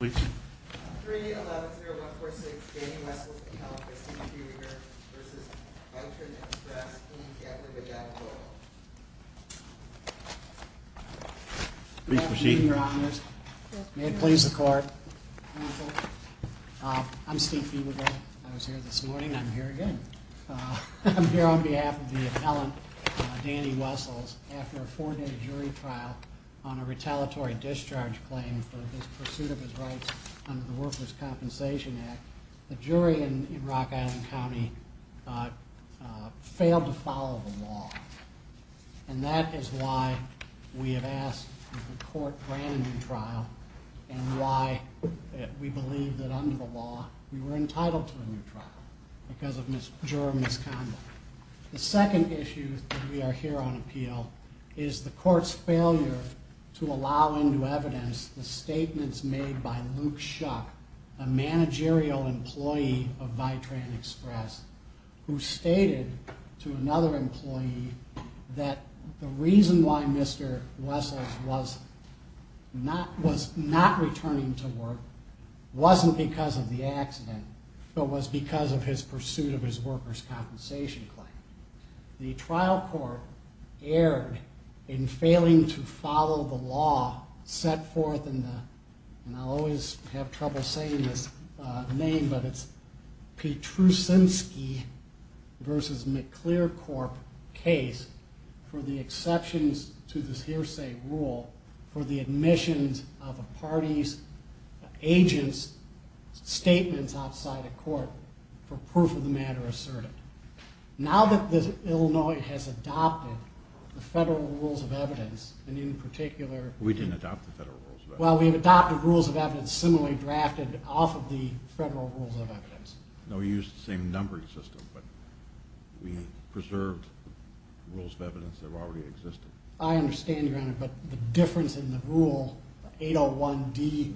I'm here on behalf of the appellant, Danny Wessels, after a four-day jury trial on a Workers' Compensation Act, the jury in Rock Island County failed to follow the law. And that is why we have asked that the court grant a new trial and why we believe that under the law we were entitled to a new trial because of juror misconduct. The second issue that we are here on appeal is the court's failure to allow into evidence the statements made by Luke Schuck, a managerial employee of Vitran Express, who stated to another employee that the reason why Mr. Wessels was not returning to work wasn't because of the accident, but was because of his pursuit of his workers' compensation. The trial court erred in failing to follow the law set forth in the, and I'll always have trouble saying this name, but it's Petruszczynski v. McClearcorp case for the exceptions to this hearsay rule for the admissions of a party's agent's statements outside a court for proof of the matter asserted. Now that Illinois has adopted the federal rules of evidence, and in particular... We didn't adopt the federal rules of evidence. Well, we have adopted rules of evidence similarly drafted off of the federal rules of evidence. No, we used the same numbering system, but we preserved rules of evidence that already existed. I understand, Your Honor, but the difference in the rule 801D2D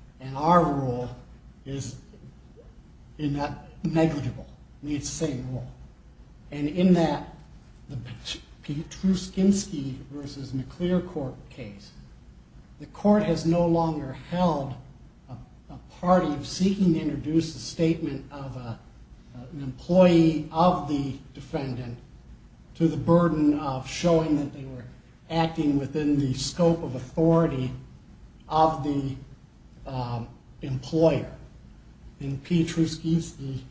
in our rule is negligible. It needs the same rule. And in that Petruszczynski v. McClearcorp case, the court has no longer held a party seeking to introduce a statement of an employee of the defendant to the burden of showing that they were acting within the scope of authority of the employer. In Petruszczynski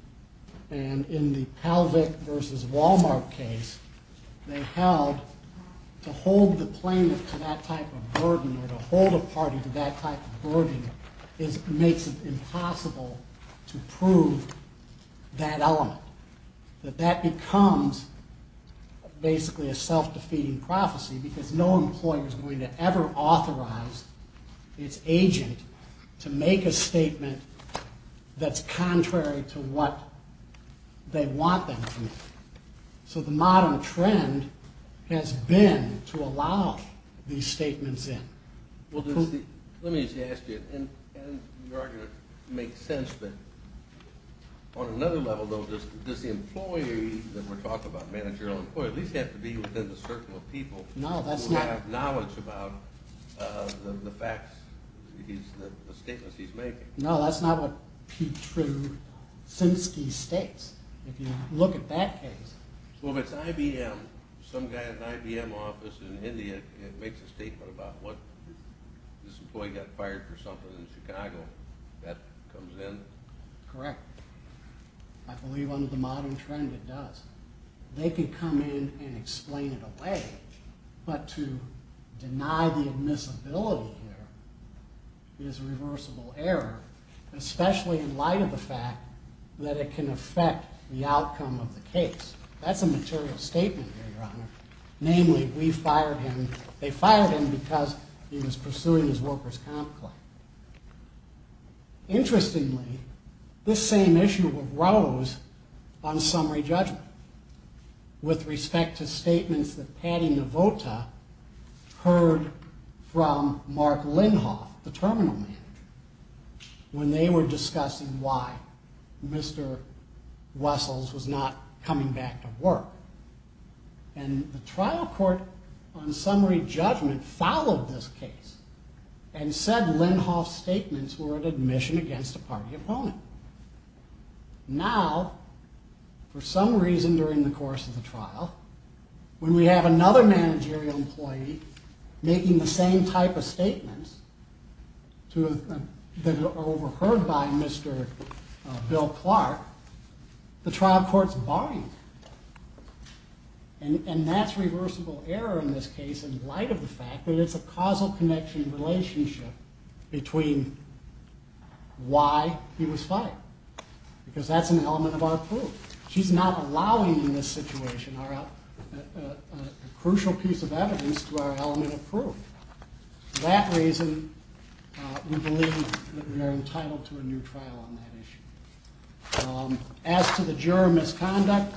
and in the Pelvic v. Walmart case, they held to hold the plaintiff to that type of burden or to hold a party to that type of burden makes it impossible to prove that element. That that becomes basically a self-defeating prophecy because no employer is going to ever authorize its agent to make a statement that's contrary to what they want them to make. So the modern trend has been to allow these statements in. Let me just ask you, and your argument makes sense, but on another level, does the employee that we're talking about, managerial employee, at least have to be within the circle of people who have knowledge about the statements he's making? No, that's not what Petruszczynski states. If you look at that case. So if it's IBM, some guy at an IBM office in India makes a statement about what this employee got fired for something in Chicago, that comes in? Correct. I believe under the modern trend it does. They could come in and explain it away, but to deny the admissibility here is a reversible error, especially in light of the fact that it can affect the outcome of the case. That's a material statement here, Your Honor. Namely, we fired him. They fired him because he was pursuing his workers' comp claim. Interestingly, this same issue arose on summary judgment with respect to statements that Patty Novota heard from Mark Lindhoff, the terminal manager, when they were discussing why Mr. Wessels was not coming back to work. And the trial court on summary judgment followed this case and said Lindhoff's statements were an admission against a party opponent. Now, for some reason during the course of the trial, when we have another managerial employee making the same type of statements that are overheard by Mr. Bill Clark, the trial courts bind. And that's reversible error in this case in light of the fact that it's a causal connection relationship between why he was fired, because that's an element of our proof. She's not allowing in this situation a crucial piece of evidence to our element of proof. For that reason, we believe that we are entitled to a new trial on that issue. As to the juror misconduct,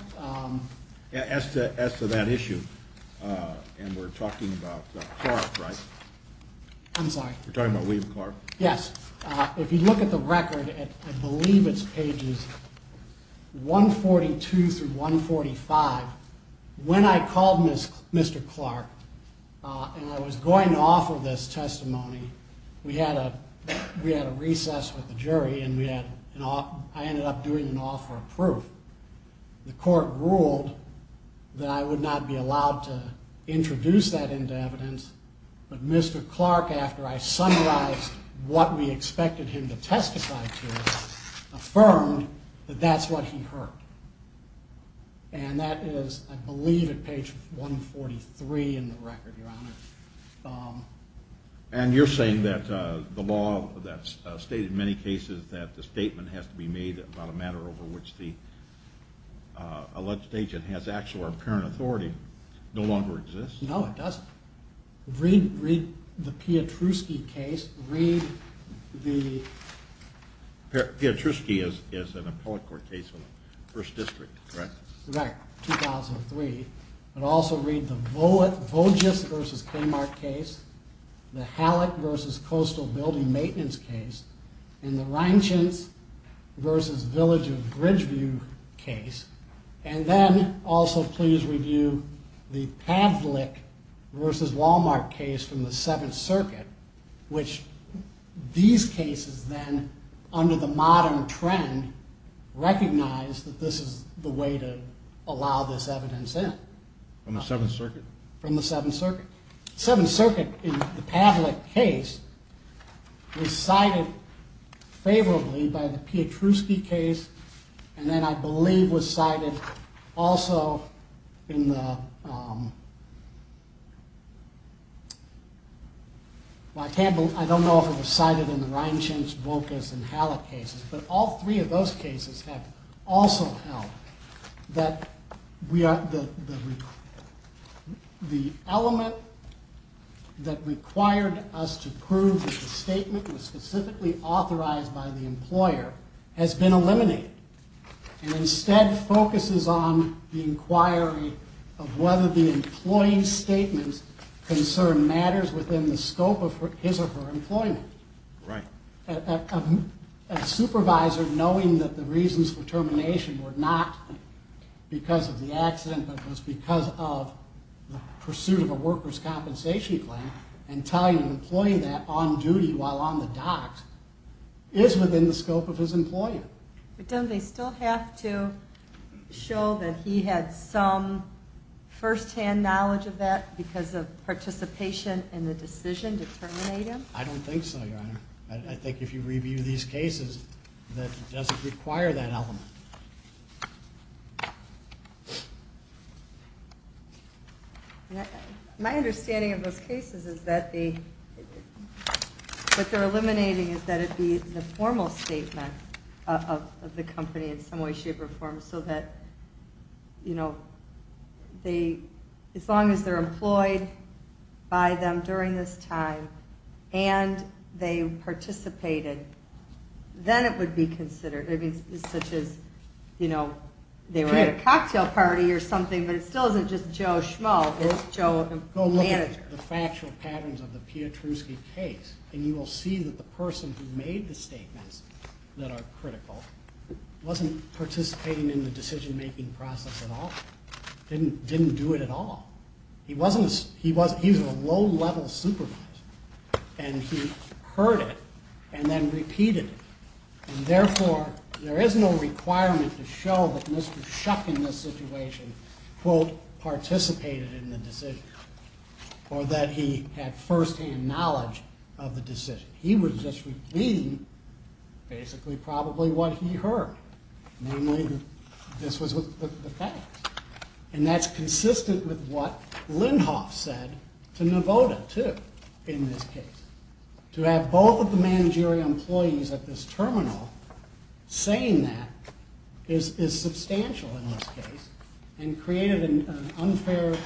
as to that issue, and we're talking about Clark, right? I'm sorry. We're talking about William Clark. Yes. If you look at the record, I believe it's pages 142 through 145. When I called Mr. Clark and I was going off of this testimony, we had a recess with the jury and I ended up doing an offer of proof. The court ruled that I would not be allowed to introduce that into evidence, but Mr. Clark, after I summarized what we expected him to testify to, affirmed that that's what he heard. And that is, I believe, at page 143 in the record, Your Honor. And you're saying that the law that's stated in many cases that the statement has to be made about a matter over which the alleged agent has actual or apparent authority no longer exists? No, it doesn't. Read the Pietruski case. Read the... Pietruski is an appellate court case in the 1st District, correct? Correct, 2003. But also read the Vogis v. Kmart case, the Halleck v. Coastal Building Maintenance case, and the Reintz v. Village of Bridgeview case. And then, also please review the Pavlik v. Walmart case from the 7th Circuit, which these cases then, under the modern trend, recognize that this is the way to allow this evidence in. From the 7th Circuit? The 7th Circuit, in the Pavlik case, was cited favorably by the Pietruski case, and then I believe was cited also in the... But all three of those cases have also held that the element that required us to prove that the statement was specifically authorized by the employer has been eliminated. And instead focuses on the inquiry of whether the employee's statement's concern matters within the scope of his or her employment. Right. A supervisor knowing that the reasons for termination were not because of the accident, but was because of the pursuit of a workers' compensation claim, and telling an employee that on duty while on the docks, is within the scope of his employment. But don't they still have to show that he had some first-hand knowledge of that because of participation in the decision to terminate him? I don't think so, Your Honor. I think if you review these cases, that doesn't require that element. My understanding of those cases is that what they're eliminating is that it be the formal statement of the company in some way, shape, or form, so that, you know, as long as they're employed by them during this time, and they participated, then it would be considered. I mean, such as, you know, they were at a cocktail party or something, but it still isn't just Joe Schmoe, it's Joe, the manager. No, look at the factual patterns of the Pietruski case, and you will see that the person who made the statements that are critical wasn't participating in the decision-making process at all. Didn't do it at all. He was a low-level supervisor, and he heard it and then repeated it. And therefore, there is no requirement to show that Mr. Shuck, in this situation, quote, participated in the decision or that he had first-hand knowledge of the decision. He was just repeating, basically, probably what he heard. Namely, this was the facts. And that's consistent with what Lindhoff said to Navoda, too, in this case. To have both of the managerial employees at this terminal saying that is substantial in this case and created an unfair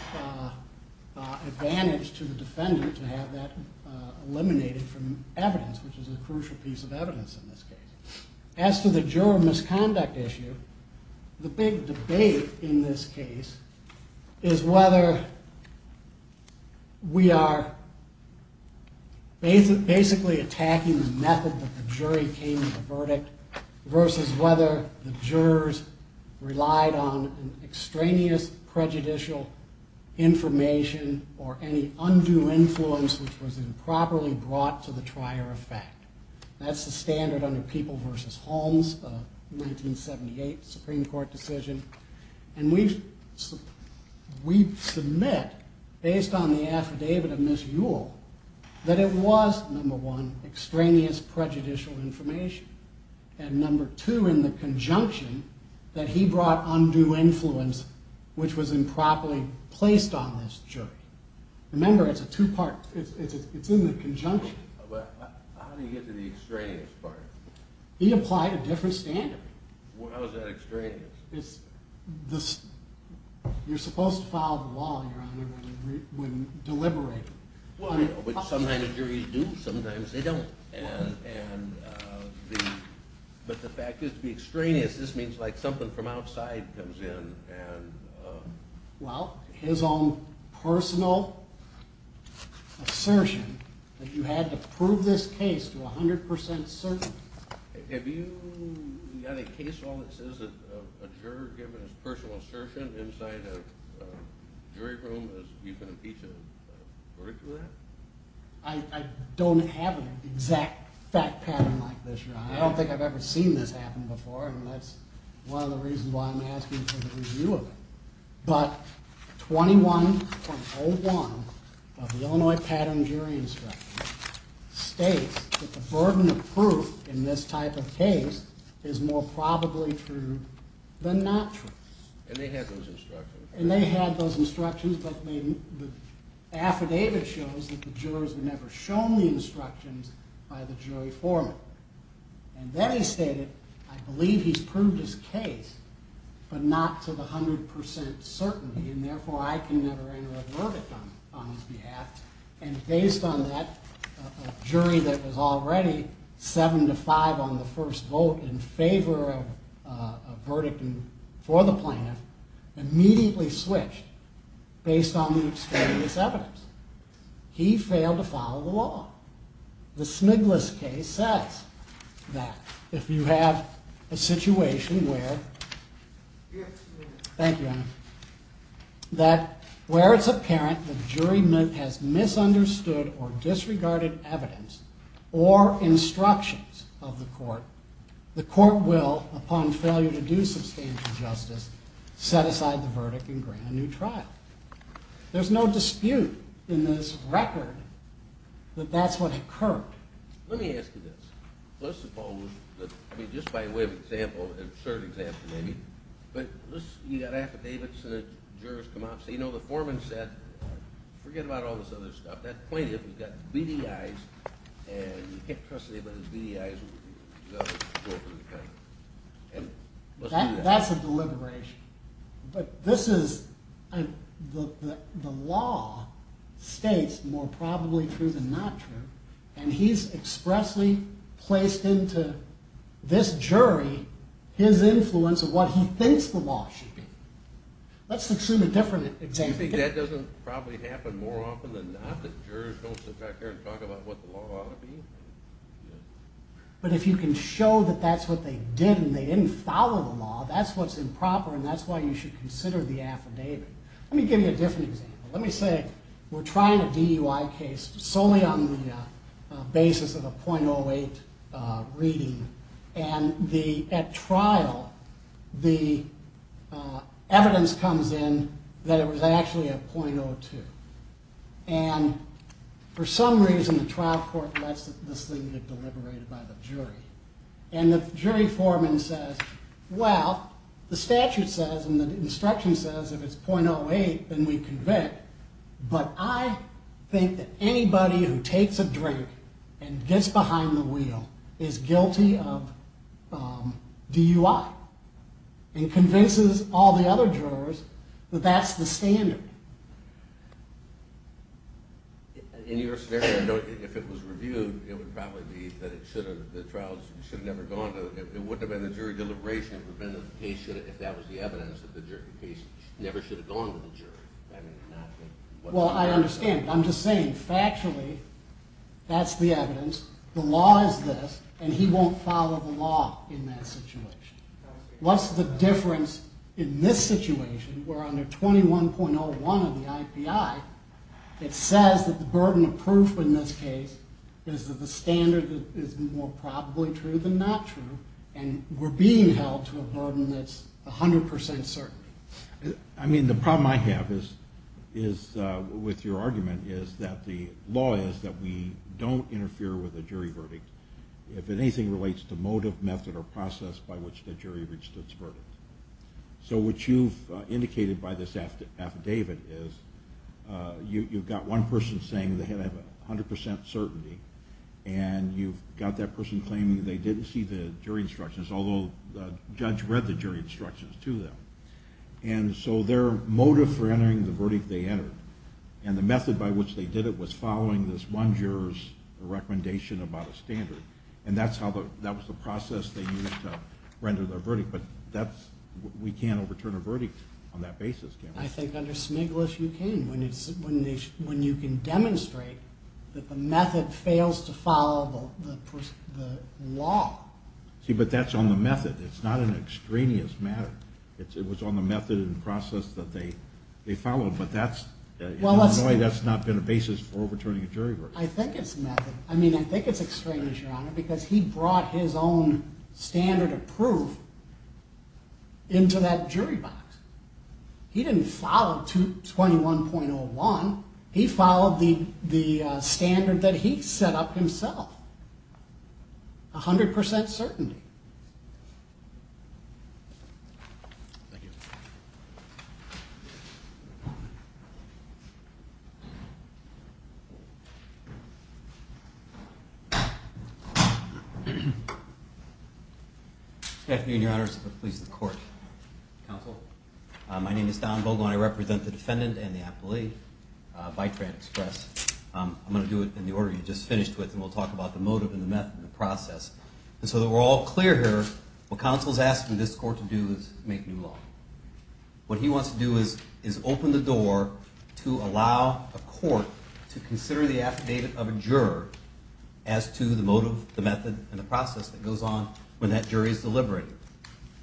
advantage to the defendant to have that eliminated from evidence, which is a crucial piece of evidence in this case. As to the juror misconduct issue, the big debate in this case is whether we are basically attacking the method that the jury came to the verdict versus whether the jurors relied on extraneous prejudicial information or any undue influence which was improperly brought to the trier of fact. That's the standard under People v. Holmes, a 1978 Supreme Court decision. And we submit, based on the affidavit of Ms. Ewell, that it was, number one, extraneous prejudicial information, and number two, in the conjunction, that he brought undue influence which was improperly placed on this jury. Remember, it's a two-part. It's in the conjunction. But how do you get to the extraneous part? He applied a different standard. Well, how is that extraneous? You're supposed to follow the law, Your Honor, when deliberating. Well, sometimes the juries do. Sometimes they don't. But the fact is, to be extraneous, this means like something from outside comes in. Well, his own personal assertion that you had to prove this case to 100% certainty. Have you got a case file that says that a juror, given his personal assertion inside a jury room, that you can impeach a verdict with that? I don't have an exact fact pattern like this, Your Honor. I don't think I've ever seen this happen before, and that's one of the reasons why I'm asking for the review of it. But 21.01 of the Illinois Pattern Jury Instructions states that the burden of proof in this type of case is more probably true than not true. And they had those instructions. The affidavit shows that the jurors were never shown the instructions by the jury foreman. And then he stated, I believe he's proved his case, but not to the 100% certainty, and therefore I can never enter a verdict on his behalf. And based on that, a jury that was already 7 to 5 on the first vote in favor of a verdict for the plaintiff immediately switched based on the extraneous evidence. He failed to follow the law. The Smiglis case says that if you have a situation where it's apparent the jury has misunderstood or disregarded evidence or instructions of the court, the court will, upon failure to do substantial justice, set aside the verdict and grant a new trial. There's no dispute in this record that that's what occurred. Let me ask you this. Let's suppose that, I mean, just by way of example, an absurd example maybe, but you got affidavits and the jurors come out and say, you know, the foreman said, forget about all this other stuff. That plaintiff has got beady eyes, and you can't trust anybody with his beady eyes. That's a deliberation. But this is, the law states more probably true than not true, and he's expressly placed into this jury his influence of what he thinks the law should be. Let's assume a different example. You think that doesn't probably happen more often than not, that jurors don't sit back there and talk about what the law ought to be? But if you can show that that's what they did and they didn't follow the law, that's what's improper, and that's why you should consider the affidavit. Let me give you a different example. Let me say we're trying a DUI case solely on the basis of a .08 reading, and at trial, the evidence comes in that it was actually a .02. And for some reason, the trial court lets this thing get deliberated by the jury, and the jury foreman says, well, the statute says and the instruction says if it's .08, then we convict. But I think that anybody who takes a drink and gets behind the wheel is guilty of DUI and convinces all the other jurors that that's the standard. In your scenario, if it was reviewed, it would probably be that the trial should have never gone. It wouldn't have been a jury deliberation if that was the evidence that the jury case never should have gone to the jury. Well, I understand. I'm just saying factually that's the evidence. The law is this, and he won't follow the law in that situation. What's the difference in this situation where under 21.01 of the IPI, it says that the burden of proof in this case is that the standard is more probably true than not true, and we're being held to a burden that's 100% certain. I mean, the problem I have is with your argument is that the law is that we don't interfere with a jury verdict. If anything relates to motive, method, or process by which the jury reached its verdict. So what you've indicated by this affidavit is you've got one person saying they have 100% certainty, and you've got that person claiming they didn't see the jury instructions, although the judge read the jury instructions to them. And so their motive for entering the verdict they entered, and the method by which they did it was following this one juror's recommendation about a standard, and that was the process they used to render their verdict. But we can't overturn a verdict on that basis, can we? I think under Smiglis you can, when you can demonstrate that the method fails to follow the law. See, but that's on the method. It's not an extraneous matter. It was on the method and process that they followed, but in a way that's not been a basis for overturning a jury verdict. I think it's method. I mean, I think it's extraneous, Your Honor, because he brought his own standard of proof into that jury box. He didn't follow 21.01. He followed the standard that he set up himself, 100% certainty. Good afternoon, Your Honors. Please, the court. Counsel. My name is Don Vogel, and I represent the defendant and the appellee, Vitran Express. I'm going to do it in the order you just finished with, and we'll talk about the motive and the method and the process. And so that we're all clear here, what counsel's asking this court to do is make new law. What he wants to do is open the door to allow a court to consider the affidavit of a juror as to the motive, the method, and the process that goes on when that jury is deliberated.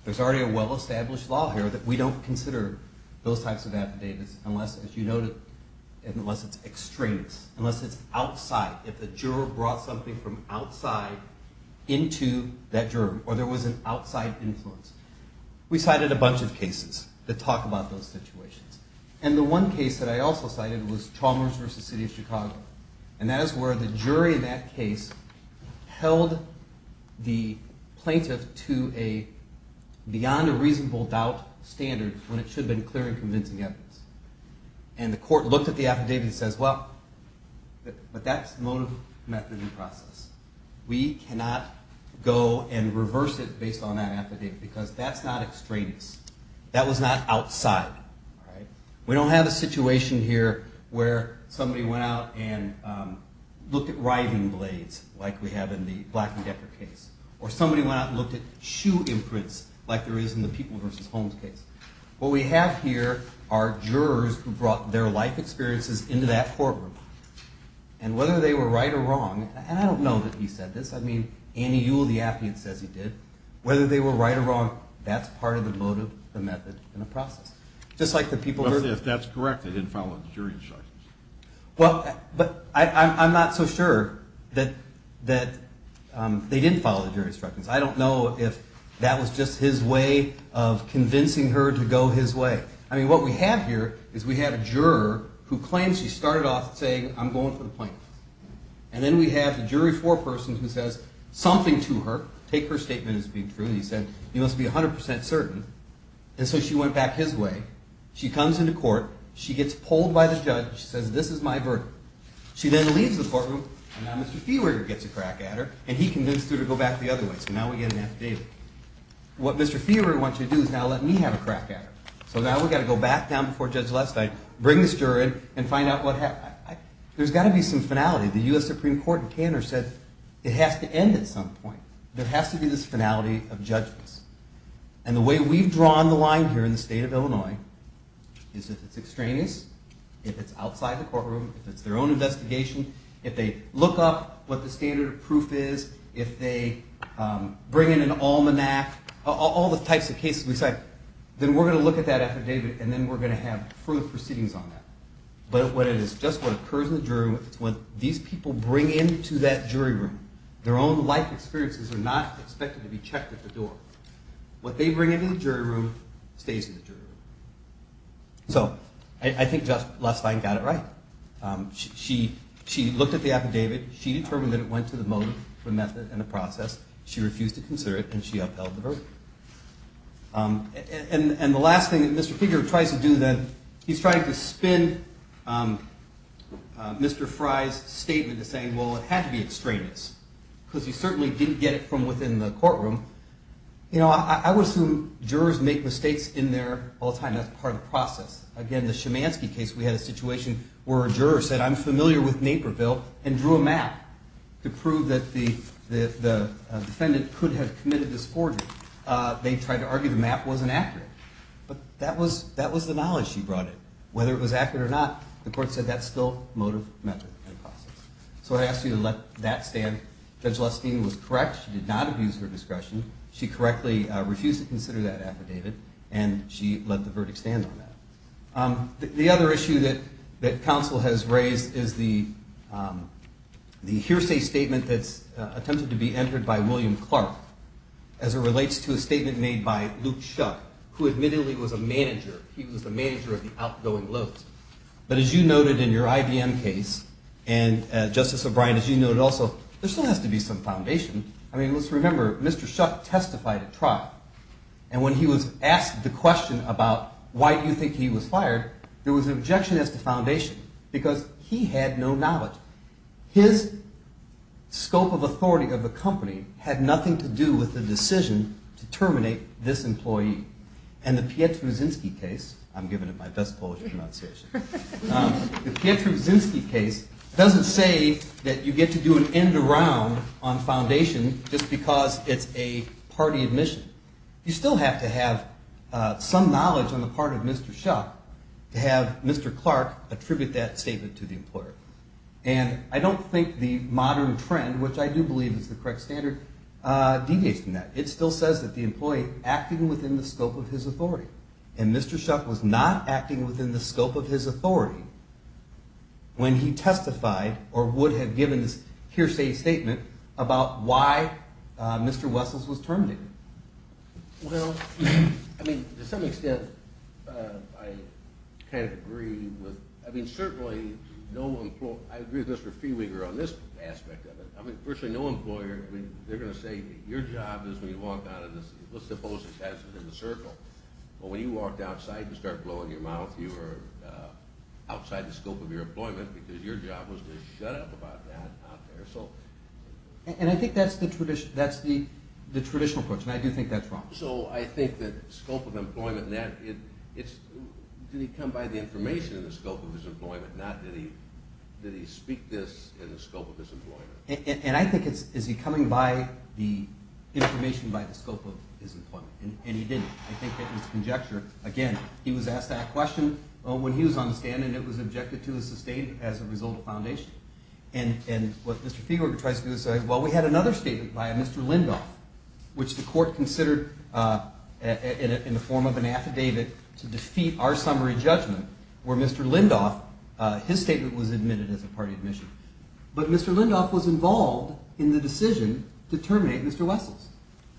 There's already a well-established law here that we don't consider those types of affidavits unless it's extraneous, unless it's outside. If the juror brought something from outside into that juror, or there was an outside influence. We cited a bunch of cases that talk about those situations. And the one case that I also cited was Chalmers v. City of Chicago. And that is where the jury in that case held the plaintiff to a beyond a reasonable doubt standard when it should have been clear and convincing evidence. And the court looked at the affidavit and says, well, but that's the motive, method, and process. We cannot go and reverse it based on that affidavit because that's not extraneous. That was not outside. We don't have a situation here where somebody went out and looked at riving blades like we have in the Black and Decker case. Or somebody went out and looked at shoe imprints like there is in the People v. Holmes case. What we have here are jurors who brought their life experiences into that courtroom. And whether they were right or wrong, and I don't know that he said this. I mean, Annie Ewell, the affidavit says he did. Whether they were right or wrong, that's part of the motive, the method, and the process. If that's correct, they didn't follow the jury instructions. Well, but I'm not so sure that they didn't follow the jury instructions. I don't know if that was just his way of convincing her to go his way. I mean, what we have here is we have a juror who claims she started off saying, I'm going for the plaintiff. And then we have the jury foreperson who says something to her. Take her statement as being true. He said, you must be 100% certain. And so she went back his way. She comes into court. She gets pulled by the judge. She says, this is my verdict. She then leaves the courtroom. And now Mr. Fiewer gets a crack at her. And he convinced her to go back the other way. So now we get an affidavit. What Mr. Fiewer wants to do is now let me have a crack at her. So now we've got to go back down before Judge Lestig, bring this juror in, and find out what happened. There's got to be some finality. The US Supreme Court in Kandor said it has to end at some point. There has to be this finality of judgments. And the way we've drawn the line here in the state of Illinois is if it's extraneous, if it's outside the courtroom, if it's their own investigation, if they look up what the standard of proof is, if they bring in an almanac, all the types of cases we cite, then we're going to look at that affidavit. And then we're going to have further proceedings on that. But it is just what occurs in the jury room. It's what these people bring into that jury room. Their own life experiences are not expected to be checked at the door. What they bring into the jury room stays in the jury room. So I think Judge Lestig got it right. She looked at the affidavit. She determined that it went to the motive, the method, and the process. She refused to consider it, and she upheld the verdict. And the last thing that Mr. Kiger tries to do then, he's trying to spin Mr. Frye's statement to say, well, it had to be extraneous, because he certainly didn't get it from within the courtroom. You know, I would assume jurors make mistakes in there all the time. That's part of the process. Again, the Shemansky case, we had a situation where a juror said, I'm familiar with Naperville and drew a map to prove that the defendant could have committed this forgery. They tried to argue the map wasn't accurate. But that was the knowledge she brought in. Whether it was accurate or not, the court said that's still motive, method, and process. So I ask you to let that stand. Judge Lestig was correct. She did not abuse her discretion. She correctly refused to consider that affidavit, and she let the verdict stand on that. The other issue that counsel has raised is the hearsay statement that's attempted to be entered by William Clark as it relates to a statement made by Luke Shuck, who admittedly was a manager. He was the manager of the outgoing loads. But as you noted in your IBM case, and, Justice O'Brien, as you noted also, there still has to be some foundation. I mean, let's remember, Mr. Shuck testified at trial, and when he was asked the question about why do you think he was fired, there was an objection as to foundation, because he had no knowledge. His scope of authority of the company had nothing to do with the decision to terminate this employee. And the Pietruszynski case, I'm giving it my best Polish pronunciation, the Pietruszynski case doesn't say that you get to do an end around on foundation just because it's a party admission. You still have to have some knowledge on the part of Mr. Shuck to have Mr. Clark attribute that statement to the employer. And I don't think the modern trend, which I do believe is the correct standard, deviates from that. It still says that the employee acted within the scope of his authority, and Mr. Shuck was not acting within the scope of his authority when he testified or would have given this hearsay statement about why Mr. Wessels was terminated. Well, I mean, to some extent, I kind of agree with – I mean, certainly no – I agree with Mr. Fiewiger on this aspect of it. I mean, firstly, no employer – I mean, they're going to say that your job is when you walk out of this – let's suppose it passes in a circle, but when you walked outside and started blowing your mouth, you were outside the scope of your employment because your job was to shut up about that out there. And I think that's the traditional approach, and I do think that's wrong. So I think that scope of employment – did he come by the information in the scope of his employment, not did he speak this in the scope of his employment? And I think it's is he coming by the information by the scope of his employment, and he didn't. I think that was the conjecture. Again, he was asked that question when he was on the stand, and it was objected to as a result of foundation. And what Mr. Fiewiger tries to do is say, well, we had another statement by Mr. Lindhoff, which the court considered in the form of an affidavit to defeat our summary judgment, where Mr. Lindhoff – his statement was admitted as a party admission. But Mr. Lindhoff was involved in the decision to terminate Mr. Wessels.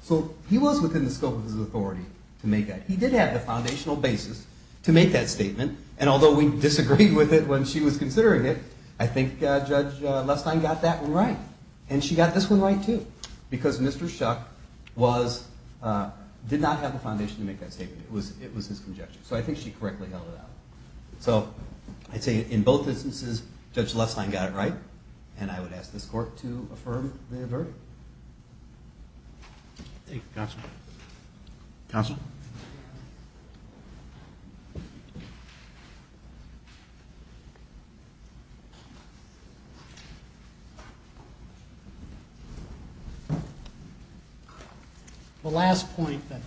So he was within the scope of his authority to make that. He did have the foundational basis to make that statement, and although we disagreed with it when she was considering it, I think Judge Lestine got that one right. And she got this one right, too, because Mr. Shuck did not have the foundation to make that statement. It was his conjecture. So I think she correctly held it out. So I'd say in both instances, Judge Lestine got it right, and I would ask this court to affirm the verdict. Thank you, counsel. Counsel? The last point that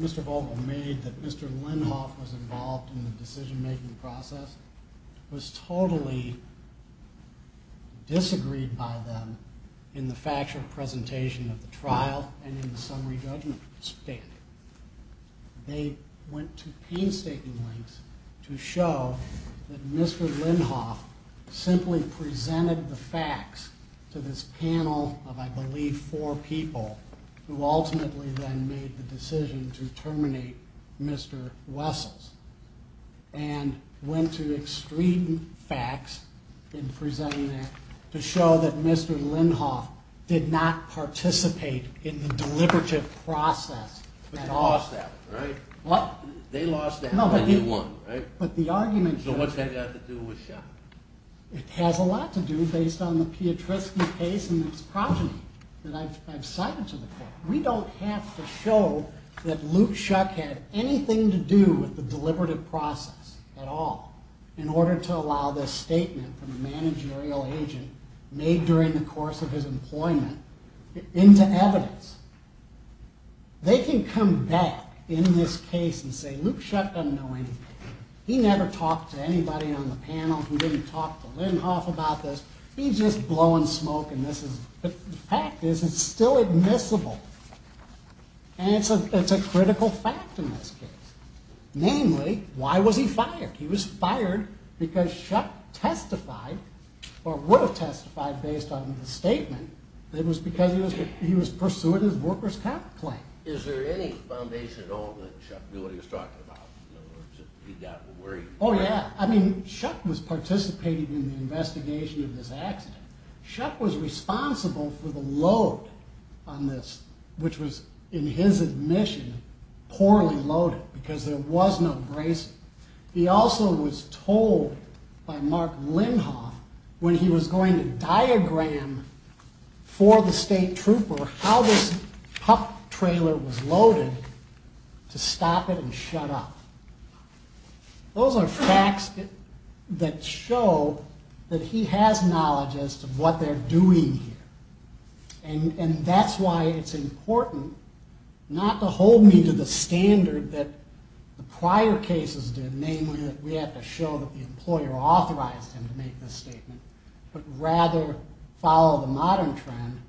Mr. Vogel made, that Mr. Lindhoff was involved in the decision-making process, was totally disagreed by them in the factual presentation of the trial and in the summary judgment standing. They went to painstaking lengths to show that Mr. Lindhoff simply presented the facts to this panel of, I believe, four people, who ultimately then made the decision to terminate Mr. Wessels and went to extreme facts in presenting that to show that Mr. Lindhoff did not participate in the deliberative process at all. But you lost that one, right? What? They lost that one, and you won, right? But the argument... So what's that got to do with Shuck? It has a lot to do based on the Piotrowski case and its progeny that I've cited to the court. We don't have to show that Luke Shuck had anything to do with the deliberative process at all in order to allow this statement from the managerial agent made during the course of his employment into evidence. They can come back in this case and say, Luke Shuck doesn't know anything. He never talked to anybody on the panel who didn't talk to Lindhoff about this. He's just blowing smoke, and this is... And it's a critical fact in this case. Namely, why was he fired? He was fired because Shuck testified or would have testified based on the statement that it was because he was pursuing his workers' comp claim. Is there any foundation at all that Shuck knew what he was talking about? Or he got worried? Oh, yeah. I mean, Shuck was participating in the investigation of this accident. Shuck was responsible for the load on this, which was, in his admission, poorly loaded because there was no bracing. He also was told by Mark Lindhoff when he was going to diagram for the state trooper how this pup trailer was loaded to stop it and shut off. Those are facts that show that he has knowledge as to what they're doing here. And that's why it's important not to hold me to the standard that the prior cases did, namely that we have to show that the employer authorized him to make this statement, but rather follow the modern trend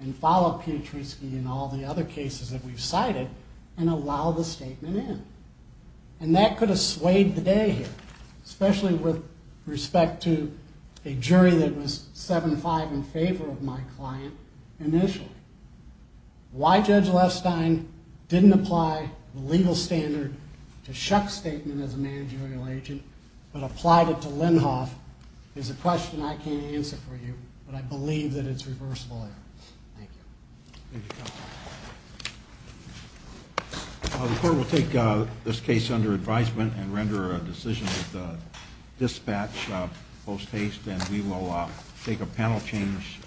and follow Pietruszki and all the other cases that we've cited and allow the statement in. And that could have swayed the day here, especially with respect to a jury that was 7-5 in favor of my client initially. Why Judge Lestine didn't apply the legal standard to Shuck's statement as a managerial agent but applied it to Lindhoff is a question I can't answer for you, but I believe that it's reversible error. Thank you. Thank you, counsel. The court will take this case under advisement and render a decision at the dispatch post-haste, and we will take a panel change.